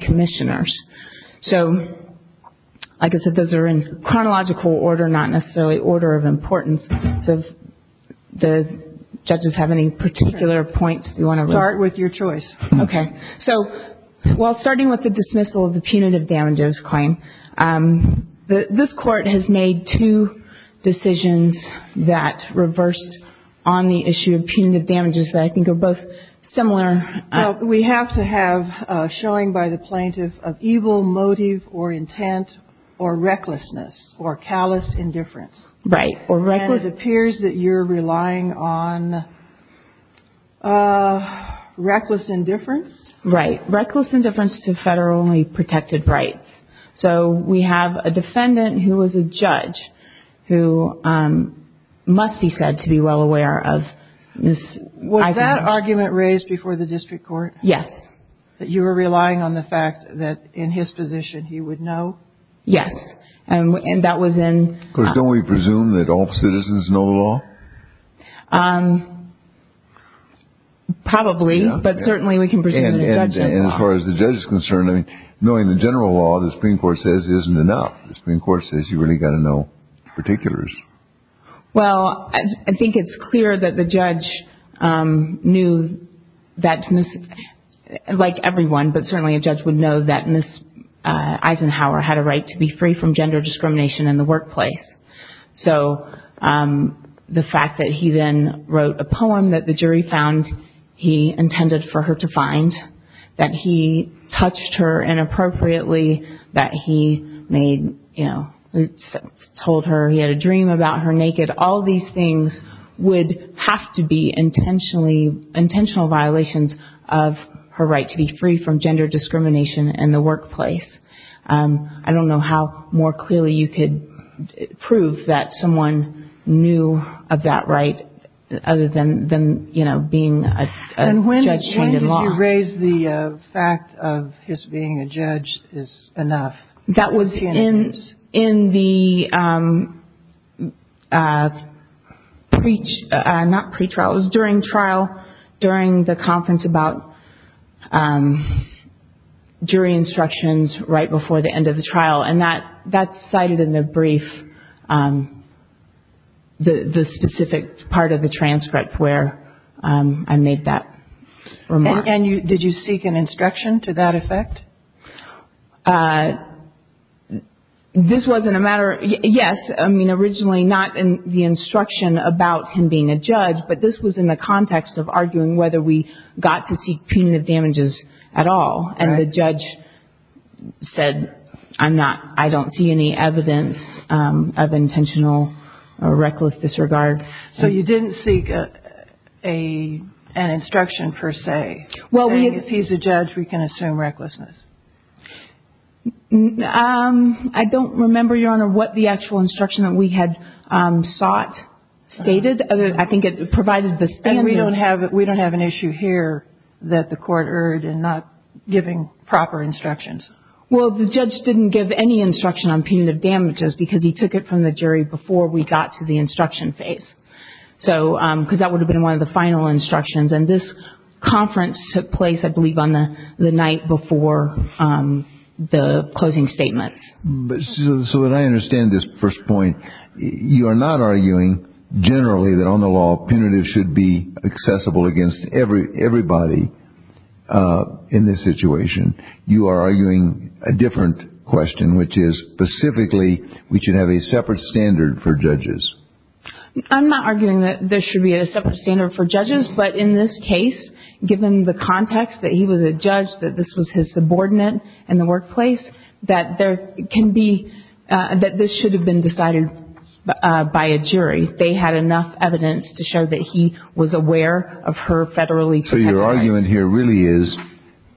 Commissioners. So, like I said, those are in chronological order, not necessarily order of importance. So, do the judges have any particular points you want to raise? Start with your choice. Okay. So, while starting with the dismissal of the punitive damages claim, this court has made two decisions that reversed on the issue of punitive We have to have a showing by the plaintiff of evil motive or intent or recklessness or callous indifference. Right. Or reckless indifference. And it appears that you're relying on reckless indifference. Right. Reckless indifference to federally protected rights. So, we have a defendant who was a judge who must be said to be well aware of this. Was that argument raised before the district court? Yes. That you were relying on the fact that in his position he would know? Yes. And that was in... Of course, don't we presume that all citizens know the law? Probably, but certainly we can presume that a judge knows the law. And as far as the judge is concerned, knowing the general law, the Supreme Court says isn't enough. The Supreme Court says you really got to know particulars. Well, I think it's clear that the judge knew that, like everyone, but certainly a judge would know that Ms. Eisenhower had a right to be free from gender discrimination in the workplace. So, the fact that he then wrote a poem that the jury found he intended for her to find, that he touched her inappropriately, that he told her he had a dream about her naked, all these things would have to be intentional violations of her right to be free from gender discrimination in the workplace. I don't know how more clearly you could prove that someone knew of that right other than being a judge trained in law. And when did you raise the fact of his being a judge is enough? That was in the pre-trial, not pre-trial, it was during trial, during the conference about jury instructions right before the end of the trial. And that's cited in the brief, the specific part of the transcript where I made that remark. And did you seek an instruction to that effect? This wasn't a matter, yes, I mean, originally not in the instruction about him being a judge, but this was in the context of arguing whether we got to seek punitive damages at all. And the judge said, I'm not, I don't see any evidence of intentional or reckless disregard. So, you didn't seek an instruction per se? Well, if he's a judge, we can assume recklessness. I don't remember, Your Honor, what the actual instruction that we had sought stated. I think it provided the standard. We don't have an issue here that the court erred in not giving proper instructions. Well, the judge didn't give any instruction on punitive damages because he took it from the jury before we got to the instruction phase. So, because that would have been one of the final instructions. And this conference took place, I believe, on the night before the closing statements. So that I understand this first point, you are not arguing generally that on the law punitive should be accessible against everybody in this situation. You are arguing a different question, which is specifically we should have a separate standard for judges. I'm not arguing that there should be a separate standard for judges. But in this case, given the context that he was a judge, that this was his subordinate in the workplace, that there can be, that this should have been decided by a jury. They had enough evidence to show that he was aware of her federally protected rights. So, your argument here really is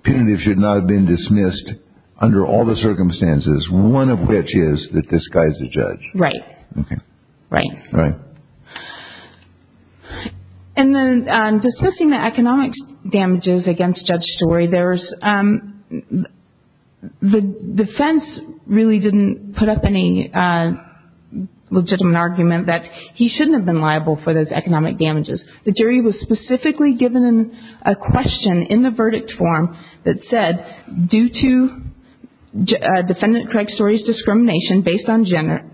punitive should not have been dismissed under all the circumstances, one of which is that this guy is a judge. Right. Okay. Right. Right. And then, discussing the economic damages against Judge Story, the defense really didn't put up any legitimate argument that he shouldn't have been liable for those economic damages. The jury was specifically given a question in the verdict form that said, due to Defendant Craig Story's discrimination based on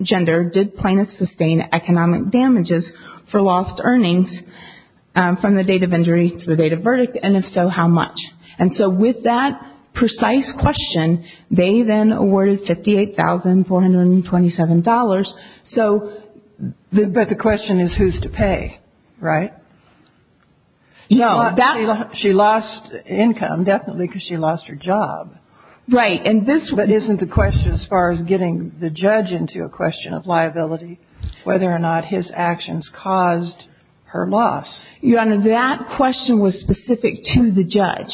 gender, did plaintiffs sustain economic damages for lost earnings from the date of injury to the date of verdict, and if so, how much? And so, with that precise question, they then awarded $58,427. But the question is who's to pay, right? No. She lost income, definitely, because she lost her job. Right. But isn't the question, as far as getting the judge into a question of liability, whether or not his actions caused her loss? Your Honor, that question was specific to the judge.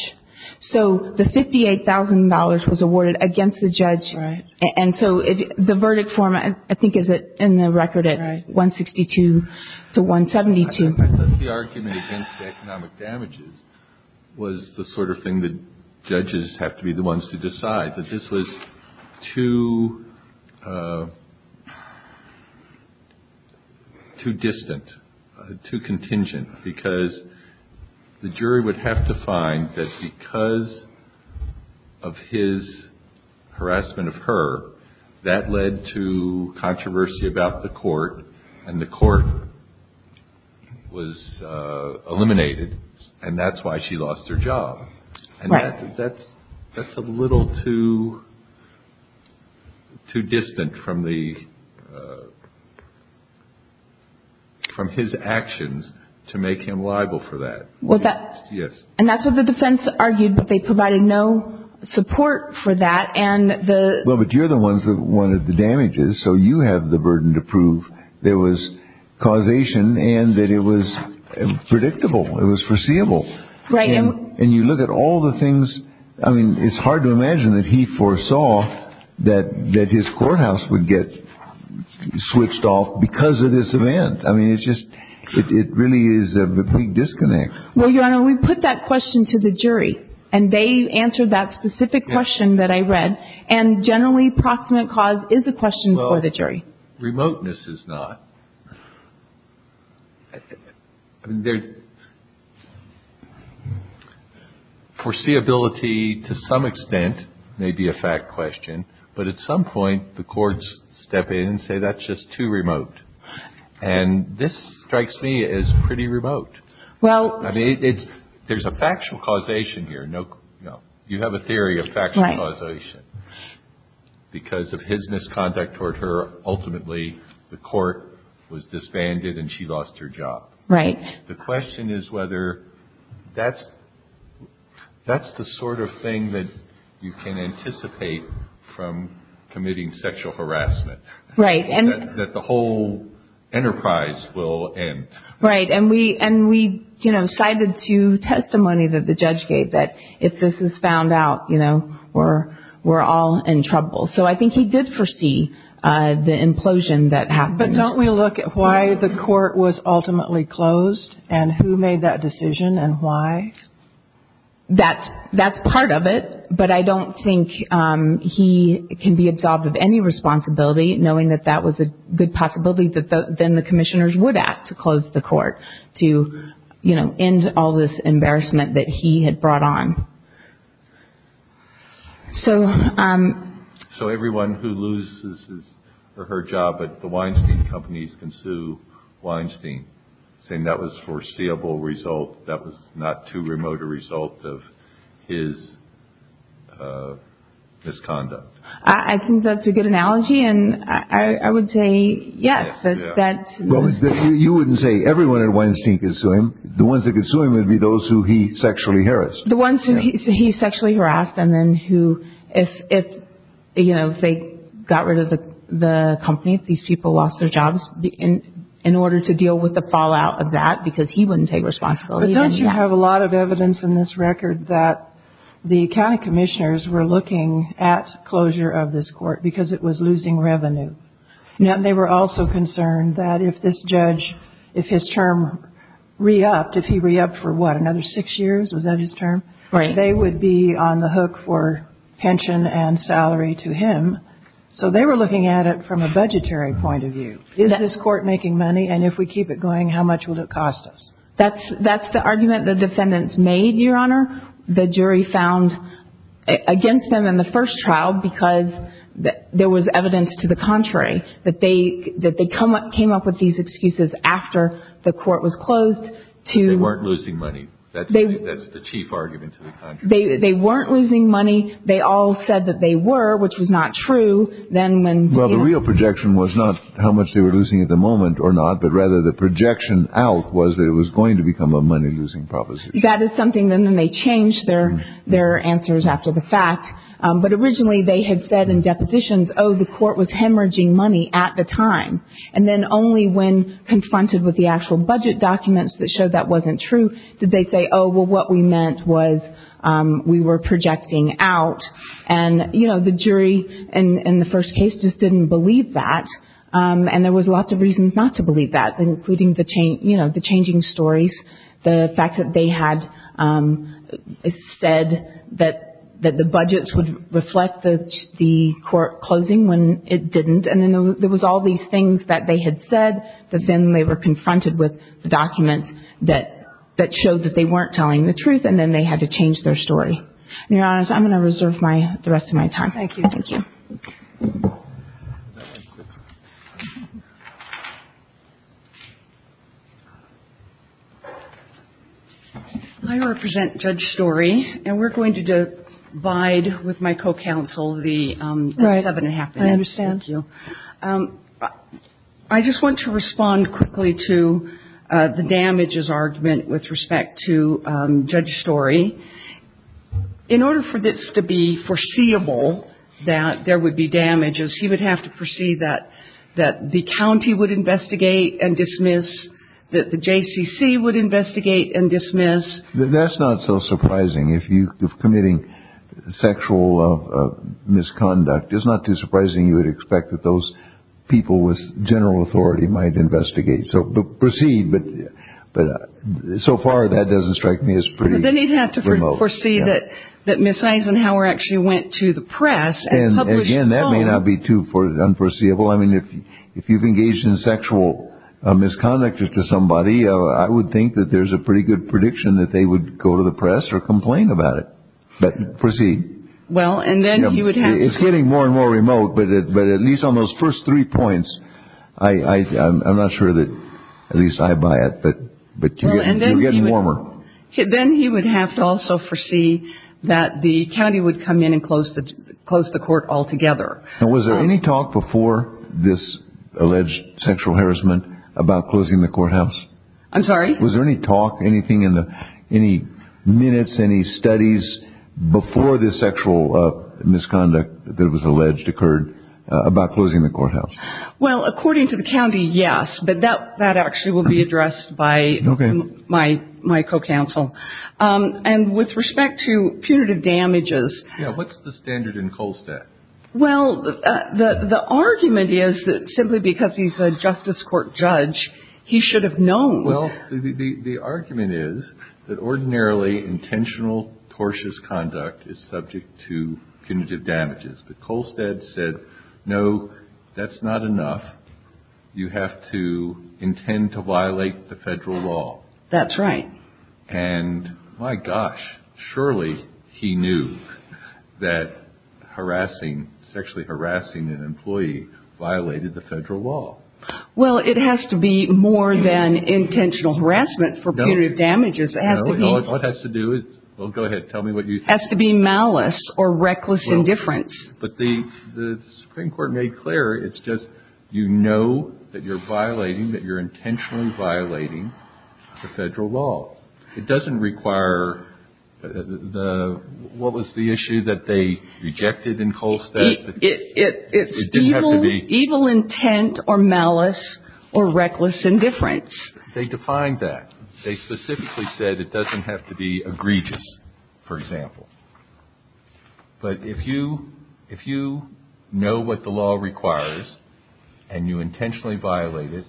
So, the $58,000 was awarded against the judge. Right. And so, the verdict form, I think, is in the record at 162 to 172. I think the argument against the economic damages was the sort of thing that judges have to be the ones to decide, that this was too distant, too contingent, because the jury would have to find that because of his harassment of her, that led to controversy about the court, and the court was eliminated, and that's why she lost her job. Right. And that's a little too distant from his actions to make him liable for that. Was that? Yes. And that's what the defense argued, that they provided no support for that. Well, but you're the ones that wanted the damages, so you have the burden to prove there was causation, and that it was predictable, it was foreseeable. Right. And you look at all the things. I mean, it's hard to imagine that he foresaw that his courthouse would get switched off because of this event. I mean, it really is a big disconnect. Well, Your Honor, we put that question to the jury, and they answered that specific question that I read, and generally, proximate cause is a question for the jury. Well, remoteness is not. Foreseeability, to some extent, may be a fact question, but at some point, the courts step in and say, that's just too remote, and this strikes me as pretty remote. I mean, there's a factual causation here. You have a theory of factual causation. Because of his misconduct toward her, ultimately, the court was disbanded and she lost her job. Right. The question is whether that's the sort of thing that you can anticipate from committing sexual harassment. Right. That the whole enterprise will end. Right. And we, you know, cited two testimonies that the judge gave that if this is found out, you know, we're all in trouble. So I think he did foresee the implosion that happened. But don't we look at why the court was ultimately closed and who made that decision and why? That's part of it, but I don't think he can be absolved of any responsibility, knowing that that was a good possibility that then the commissioners would act to close the court to, you know, end all this embarrassment that he had brought on. So everyone who loses her job at the Weinstein companies can sue Weinstein, saying that was foreseeable result, that was not too remote a result of his misconduct. I think that's a good analogy, and I would say yes. You wouldn't say everyone at Weinstein could sue him. The ones that could sue him would be those who he sexually harassed. The ones who he sexually harassed and then who if, you know, they got rid of the company, if these people lost their jobs, in order to deal with the fallout of that, because he wouldn't take responsibility. But don't you have a lot of evidence in this record that the county commissioners were looking at closure of this court because it was losing revenue? And they were also concerned that if this judge, if his term re-upped, if he re-upped for what, another six years? Was that his term? Right. They would be on the hook for pension and salary to him. So they were looking at it from a budgetary point of view. Is this court making money? And if we keep it going, how much will it cost us? That's the argument the defendants made, Your Honor. The jury found against them in the first trial because there was evidence to the contrary, that they came up with these excuses after the court was closed. They weren't losing money. That's the chief argument to the contrary. They weren't losing money. They all said that they were, which was not true. Well, the real projection was not how much they were losing at the moment or not, but rather the projection out was that it was going to become a money-losing proposition. That is something. And then they changed their answers after the fact. But originally they had said in depositions, oh, the court was hemorrhaging money at the time. And then only when confronted with the actual budget documents that showed that wasn't true did they say, oh, well, what we meant was we were projecting out. And, you know, the jury in the first case just didn't believe that. And there was lots of reasons not to believe that, including, you know, the changing stories, the fact that they had said that the budgets would reflect the court closing when it didn't. And then there was all these things that they had said, but then they were confronted with the documents that showed that they weren't telling the truth, and then they had to change their story. And, Your Honor, I'm going to reserve the rest of my time. Thank you. Thank you. I represent Judge Story, and we're going to divide with my co-counsel the seven and a half minutes. Right. I understand. Thank you. I just want to respond quickly to the damages argument with respect to Judge Story. In order for this to be foreseeable, that there would be damages, he would have to proceed that the county would investigate and dismiss, that the JCC would investigate and dismiss. That's not so surprising. If you're committing sexual misconduct, it's not too surprising you would expect that those people with general authority might investigate. So proceed, but so far that doesn't strike me as pretty good. Then he'd have to foresee that Ms. Eisenhower actually went to the press and published a phone. Again, that may not be too unforeseeable. I mean, if you've engaged in sexual misconduct to somebody, I would think that there's a pretty good prediction that they would go to the press or complain about it. But proceed. Well, and then he would have to. It's getting more and more remote, but at least on those first three points, I'm not sure that at least I buy it, but you're getting warmer. Then he would have to also foresee that the county would come in and close the court altogether. Now, was there any talk before this alleged sexual harassment about closing the courthouse? I'm sorry? Was there any talk, any minutes, any studies before this sexual misconduct that was alleged occurred about closing the courthouse? Well, according to the county, yes. But that actually will be addressed by my co-counsel. And with respect to punitive damages. What's the standard in Kolstad? Well, the argument is that simply because he's a justice court judge, he should have known. Well, the argument is that ordinarily intentional, tortuous conduct is subject to punitive damages. But Kolstad said, no, that's not enough. You have to intend to violate the federal law. That's right. And my gosh, surely he knew that harassing, sexually harassing an employee violated the federal law. Well, it has to be more than intentional harassment for punitive damages. It has to be. What it has to do is. Well, go ahead. Tell me what you think. It has to be malice or reckless indifference. But the Supreme Court made clear it's just you know that you're violating, that you're intentionally violating the federal law. It doesn't require the – what was the issue that they rejected in Kolstad? It's evil intent or malice or reckless indifference. They defined that. They specifically said it doesn't have to be egregious, for example. But if you know what the law requires and you intentionally violate it,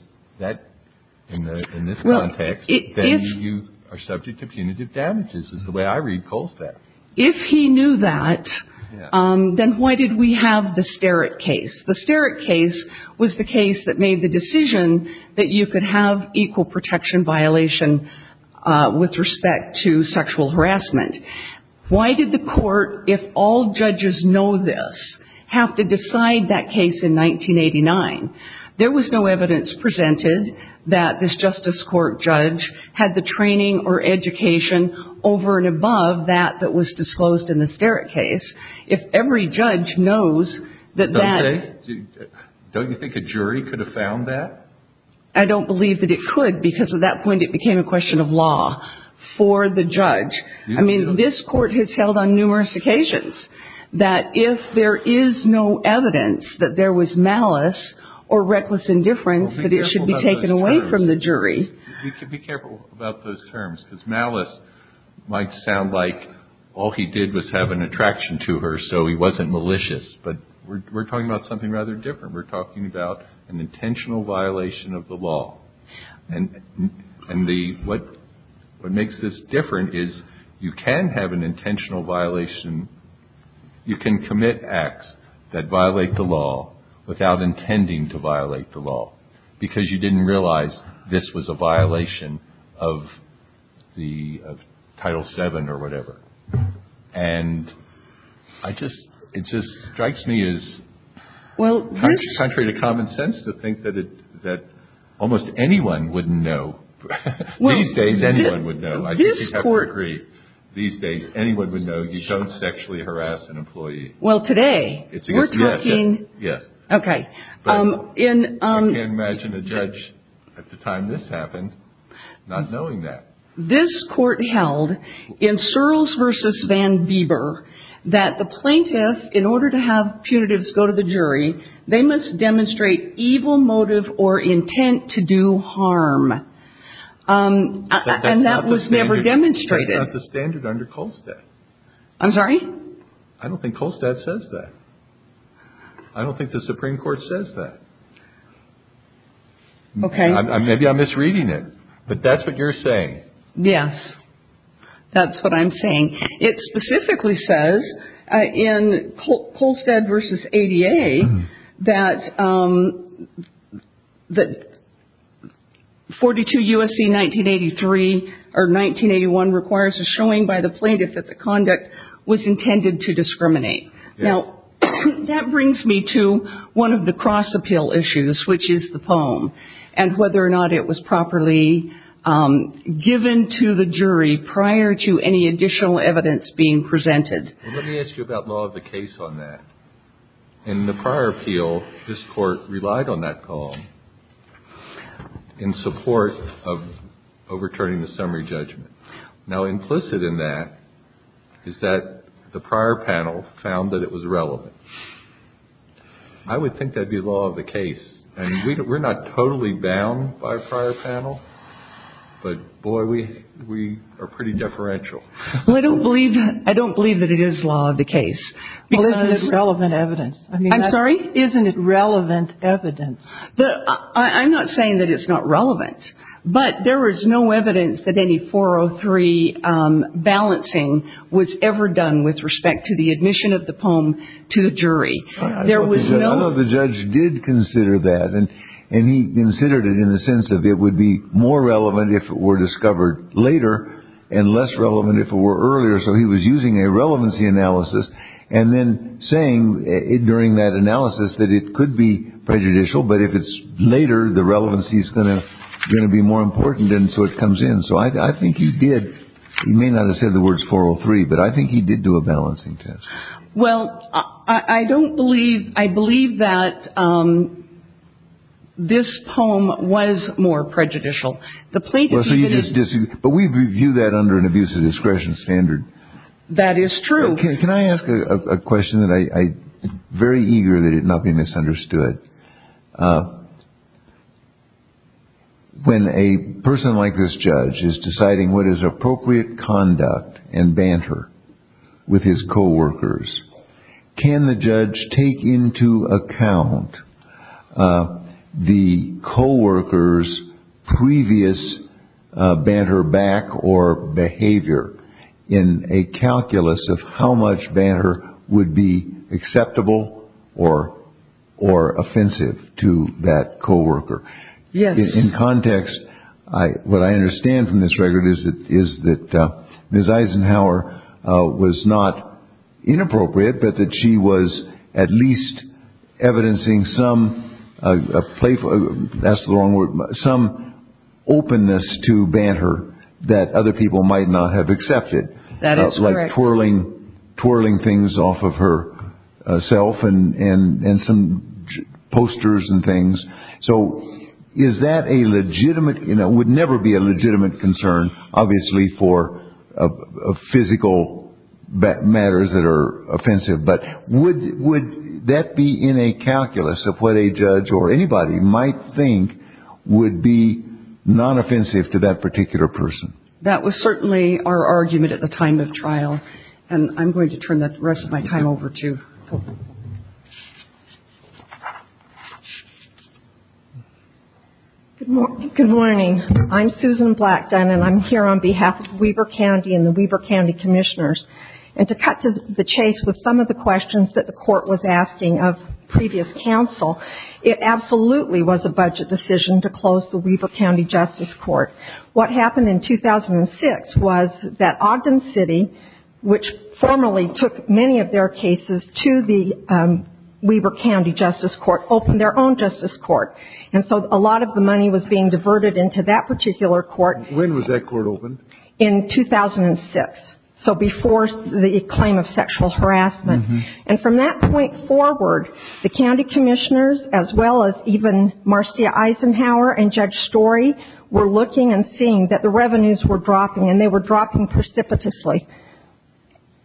in this context, then you are subject to punitive damages is the way I read Kolstad. If he knew that, then why did we have the Sterritt case? The Sterritt case was the case that made the decision that you could have equal protection violation with respect to sexual harassment. Why did the court, if all judges know this, have to decide that case in 1989? There was no evidence presented that this justice court judge had the training or education over and above that that was disclosed in the Sterritt case. If every judge knows that that. Don't they? Don't you think a jury could have found that? I don't believe that it could because at that point it became a question of law for the judge. I mean, this court has held on numerous occasions that if there is no evidence that there was malice or reckless indifference, that it should be taken away from the jury. Be careful about those terms because malice might sound like all he did was have an attraction to her so he wasn't malicious. But we're talking about something rather different. We're talking about an intentional violation of the law. And what makes this different is you can have an intentional violation. You can commit acts that violate the law without intending to violate the law because you didn't realize this was a violation of the Title VII or whatever. And it just strikes me as contrary to common sense to think that almost anyone wouldn't know. These days anyone would know. I think you'd have to agree. These days anyone would know you don't sexually harass an employee. Well, today we're talking. Yes. Okay. I can't imagine a judge at the time this happened not knowing that. This Court held in Searles v. Van Bieber that the plaintiff, in order to have punitives go to the jury, they must demonstrate evil motive or intent to do harm. And that was never demonstrated. That's not the standard under Kolstad. I'm sorry? I don't think Kolstad says that. I don't think the Supreme Court says that. Okay. Maybe I'm misreading it. But that's what you're saying. Yes. That's what I'm saying. It specifically says in Kolstad v. ADA that 42 U.S.C. 1983 or 1981 requires a showing by the plaintiff that the conduct was intended to discriminate. Now, that brings me to one of the cross-appeal issues, which is the poem, and whether or not it was properly given to the jury prior to any additional evidence being presented. Let me ask you about law of the case on that. In the prior appeal, this Court relied on that poem in support of overturning the summary judgment. Now, implicit in that is that the prior panel found that it was relevant. I would think that would be law of the case. And we're not totally bound by prior panel, but, boy, we are pretty deferential. Well, I don't believe that it is law of the case. Well, isn't it relevant evidence? I'm sorry? Isn't it relevant evidence? I'm not saying that it's not relevant. But there is no evidence that any 403 balancing was ever done with respect to the admission of the poem to the jury. I know the judge did consider that, and he considered it in the sense of it would be more relevant if it were discovered later and less relevant if it were earlier, so he was using a relevancy analysis and then saying during that analysis that it could be prejudicial, but if it's later, the relevancy is going to be more important, and so it comes in. So I think he did. He may not have said the words 403, but I think he did do a balancing test. Well, I don't believe – I believe that this poem was more prejudicial. The plaintiff even – Well, so you just – but we view that under an abuse of discretion standard. That is true. Can I ask a question that I'm very eager that it not be misunderstood? When a person like this judge is deciding what is appropriate conduct and banter with his coworkers, can the judge take into account the coworker's previous banter back or behavior in a calculus of how much banter would be acceptable or offensive to that coworker? Yes. In context, what I understand from this record is that Ms. Eisenhower was not inappropriate, but that she was at least evidencing some – that's the wrong word – some openness to banter that other people might not have accepted. That is correct. Like twirling things off of herself and some posters and things. So is that a legitimate – it would never be a legitimate concern, obviously, for physical matters that are offensive, but would that be in a calculus of what a judge or anybody might think would be non-offensive to that particular person? That was certainly our argument at the time of trial, and I'm going to turn the rest of my time over to Hope. Good morning. I'm Susan Blackdon, and I'm here on behalf of Weber County and the Weber County Commissioners. And to cut to the chase with some of the questions that the Court was asking of previous counsel, it absolutely was a budget decision to close the Weber County Justice Court. What happened in 2006 was that Ogden City, which formally took many of their cases to the Weber County Justice Court, opened their own justice court. And so a lot of the money was being diverted into that particular court. When was that court opened? In 2006, so before the claim of sexual harassment. And from that point forward, the county commissioners, as well as even Marcia Eisenhower and Judge Story, were looking and seeing that the revenues were dropping, and they were dropping precipitously.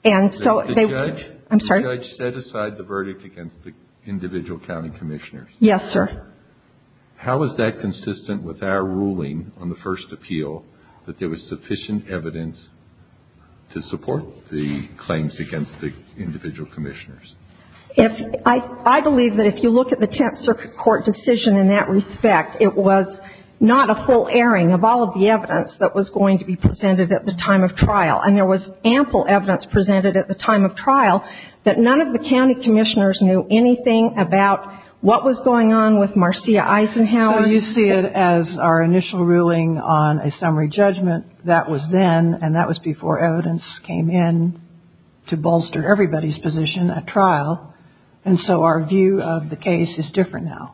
The judge set aside the verdict against the individual county commissioners. Yes, sir. How is that consistent with our ruling on the first appeal, that there was sufficient evidence to support the claims against the individual commissioners? I believe that if you look at the Tenth Circuit Court decision in that respect, it was not a full airing of all of the evidence that was going to be presented at the time of trial. And there was ample evidence presented at the time of trial that none of the county commissioners knew anything about what was going on with Marcia Eisenhower. So you see it as our initial ruling on a summary judgment. That was then, and that was before evidence came in to bolster everybody's position at trial. And so our view of the case is different now.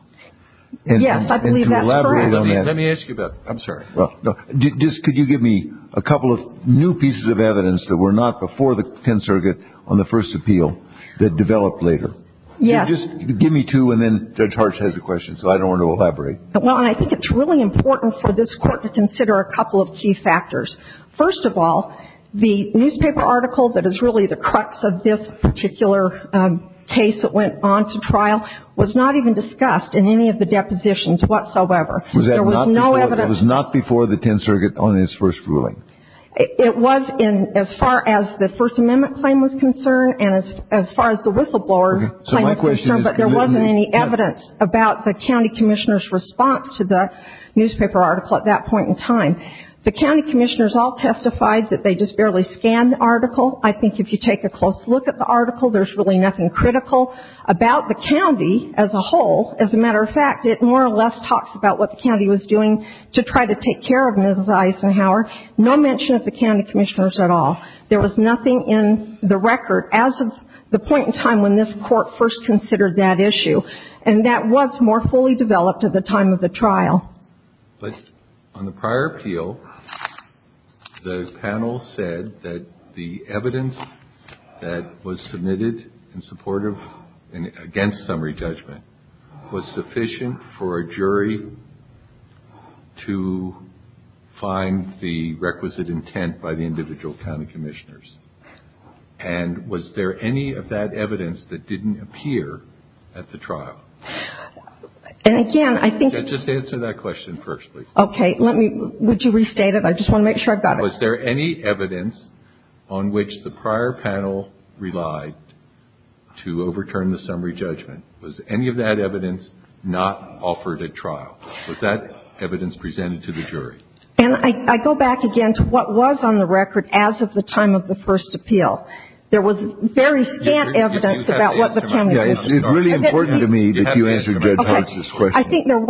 Yes, I believe that's correct. And to elaborate on that. Let me ask you about it. I'm sorry. Just could you give me a couple of new pieces of evidence that were not before the Tenth Circuit on the first appeal that developed later? Yes. Just give me two, and then Judge Hartch has a question, so I don't want to elaborate. Well, and I think it's really important for this Court to consider a couple of key factors. First of all, the newspaper article that is really the crux of this particular case that went on to trial was not even discussed in any of the depositions whatsoever. There was no evidence. It was not before the Tenth Circuit on its first ruling? It was as far as the First Amendment claim was concerned and as far as the whistleblower claim was concerned. But there wasn't any evidence about the county commissioner's response to the newspaper article at that point in time. The county commissioners all testified that they just barely scanned the article. I think if you take a close look at the article, there's really nothing critical about the county as a whole. As a matter of fact, it more or less talks about what the county was doing to try to take care of Mrs. Eisenhower. No mention of the county commissioners at all. There was nothing in the record as of the point in time when this Court first considered that issue. And that was more fully developed at the time of the trial. But on the prior appeal, the panel said that the evidence that was submitted in support of and against summary judgment was sufficient for a jury to find the requisite intent by the individual county commissioners. And was there any of that evidence that didn't appear at the trial? And again, I think... Just answer that question first, please. Okay. Would you restate it? I just want to make sure I've got it. Was there any evidence on which the prior panel relied to overturn the summary judgment? Was any of that evidence not offered at trial? Was that evidence presented to the jury? And I go back again to what was on the record as of the time of the first appeal. There was very scant evidence about what the county was doing. It's really important to me that you answer Judge Hart's question. I think there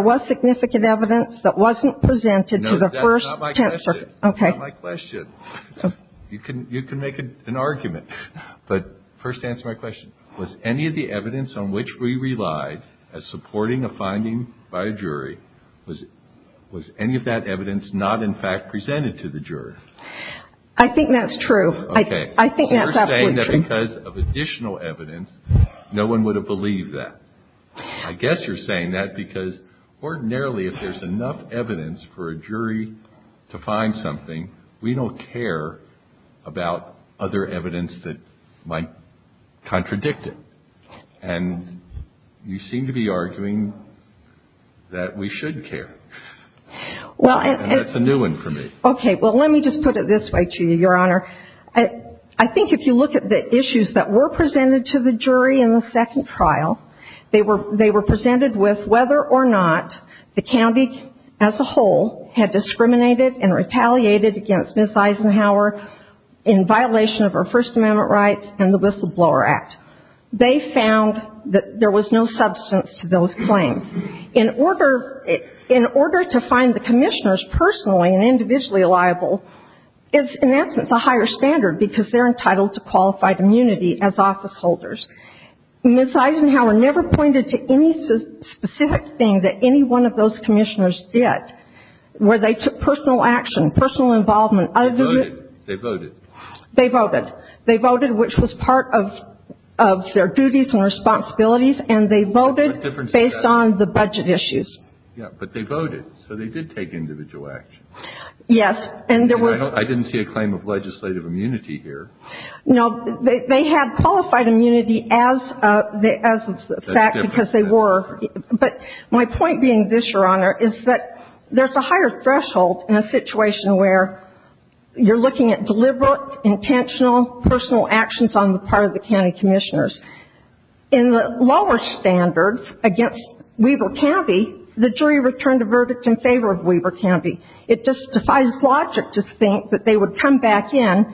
was significant evidence that wasn't presented to the first... No, that's not my question. Okay. That's not my question. You can make an argument. But first answer my question. Was any of the evidence on which we relied as supporting a finding by a jury, was any of that evidence not in fact presented to the jury? I think that's true. Okay. I think that's absolutely true. So you're saying that because of additional evidence, no one would have believed that. I guess you're saying that because ordinarily if there's enough evidence for a jury to find something, we don't care about other evidence that might contradict it. And you seem to be arguing that we should care. And that's a new one for me. Okay. Well, let me just put it this way to you, Your Honor. I think if you look at the issues that were presented to the jury in the second trial, they were presented with whether or not the county as a whole had discriminated and retaliated against Ms. Eisenhower in violation of her First Amendment rights and the Whistleblower Act. They found that there was no substance to those claims. In order to find the commissioners personally and individually liable is, in essence, a higher standard because they're entitled to qualified immunity as office holders. Ms. Eisenhower never pointed to any specific thing that any one of those commissioners did where they took personal action, personal involvement. They voted. They voted. They voted, which was part of their duties and responsibilities. And they voted based on the budget issues. Yeah. But they voted. So they did take individual action. Yes. I didn't see a claim of legislative immunity here. No. They had qualified immunity as a fact because they were. But my point being this, Your Honor, is that there's a higher threshold in a situation where you're looking at deliberate, intentional, personal actions on the part of the county commissioners. In the lower standard against Weber County, the jury returned a verdict in favor of Weber County. It just defies logic to think that they would come back in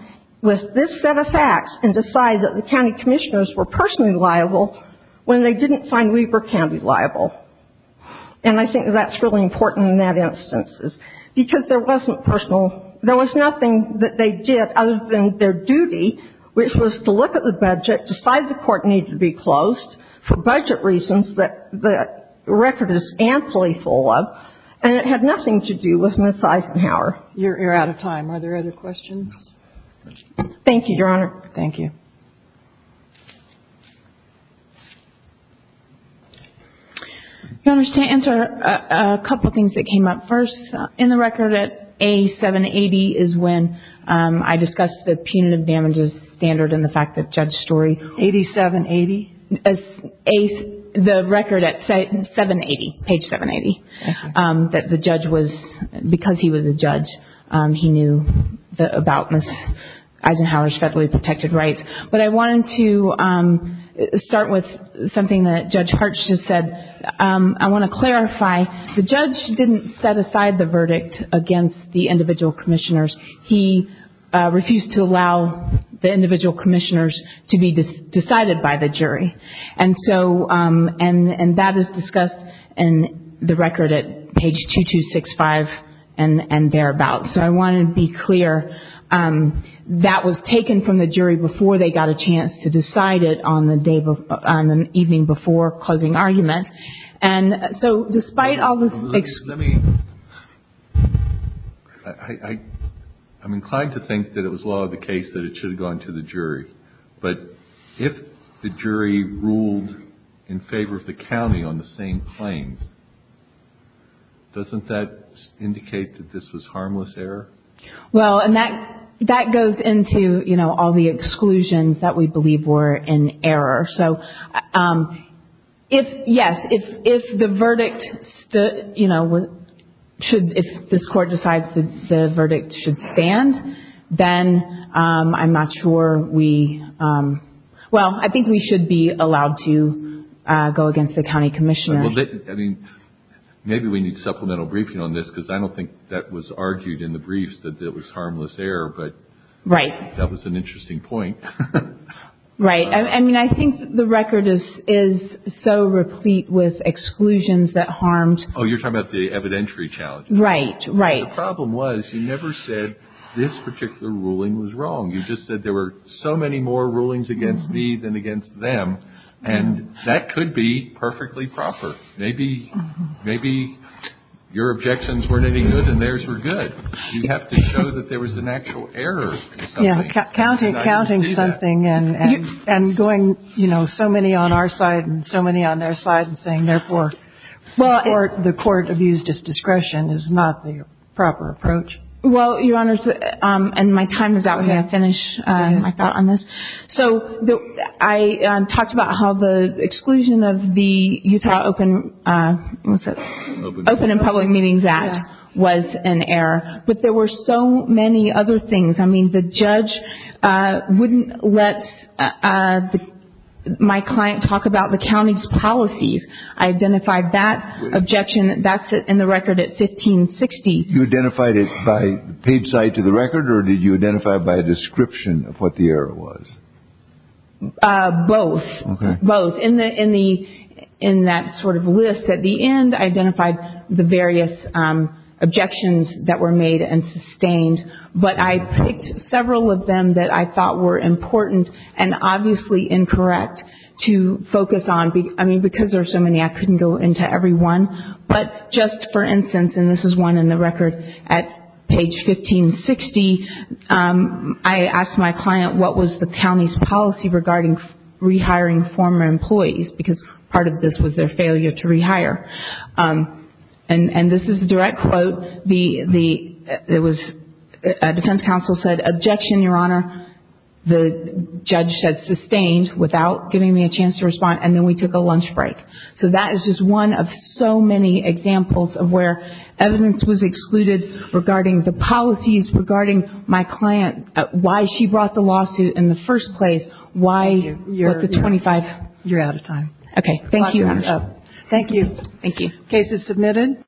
with this set of facts and decide that the county commissioners were personally liable when they didn't find Weber County liable. And I think that that's really important in that instance because there wasn't personal. There was nothing that they did other than their duty, which was to look at the budget, decide the court needed to be closed for budget reasons that the record is amply full of, and it had nothing to do with Miss Eisenhower. You're out of time. Are there other questions? Thank you, Your Honor. Thank you. Your Honors, to answer a couple things that came up first, in the record at A780 is when I discussed the punitive damages standard and the fact that Judge Story. 8780? The record at 780, page 780, that the judge was, because he was a judge, he knew about Miss Eisenhower's federally protected rights. But I wanted to start with something that Judge Hartch just said. I want to clarify, the judge didn't set aside the verdict against the individual commissioners. He refused to allow the individual commissioners to be decided by the jury. And so that is discussed in the record at page 2265 and thereabouts. So I want to be clear, that was taken from the jury before they got a chance to decide it on the evening before closing argument. I'm inclined to think that it was law of the case that it should have gone to the jury. But if the jury ruled in favor of the county on the same claims, doesn't that indicate that this was harmless error? Well, and that goes into, you know, all the exclusions that we believe were in error. So if, yes, if the verdict stood, you know, should, if this court decides that the verdict should stand, then I'm not sure we, well, I think we should be allowed to go against the county commissioners. Well, I mean, maybe we need supplemental briefing on this, because I don't think that was argued in the briefs that it was harmless error. But that was an interesting point. Right. I mean, I think the record is so replete with exclusions that harmed. Oh, you're talking about the evidentiary challenge. Right, right. The problem was you never said this particular ruling was wrong. You just said there were so many more rulings against me than against them. And that could be perfectly proper. Maybe your objections weren't any good and theirs were good. You have to show that there was an actual error in something. Yeah, counting something and going, you know, so many on our side and so many on their side and saying therefore the court abused its discretion is not the proper approach. Well, Your Honors, and my time is out. I'm going to finish my thought on this. So I talked about how the exclusion of the Utah Open and Public Meetings Act was an error. But there were so many other things. I mean, the judge wouldn't let my client talk about the county's policies. I identified that objection. That's in the record at 1560. You identified it by page side to the record or did you identify by a description of what the error was? Both. Both. In the in the in that sort of list at the end, I identified the various objections that were made and sustained. But I picked several of them that I thought were important and obviously incorrect to focus on. I mean, because there are so many, I couldn't go into every one. But just for instance, and this is one in the record at page 1560, I asked my client what was the county's policy regarding rehiring former employees because part of this was their failure to rehire. And this is a direct quote. So the defense counsel said, objection, Your Honor. The judge said sustained without giving me a chance to respond. And then we took a lunch break. So that is just one of so many examples of where evidence was excluded regarding the policies, regarding my client, why she brought the lawsuit in the first place, why the 25. You're out of time. Okay, thank you. Thank you. Thank you. Case is submitted.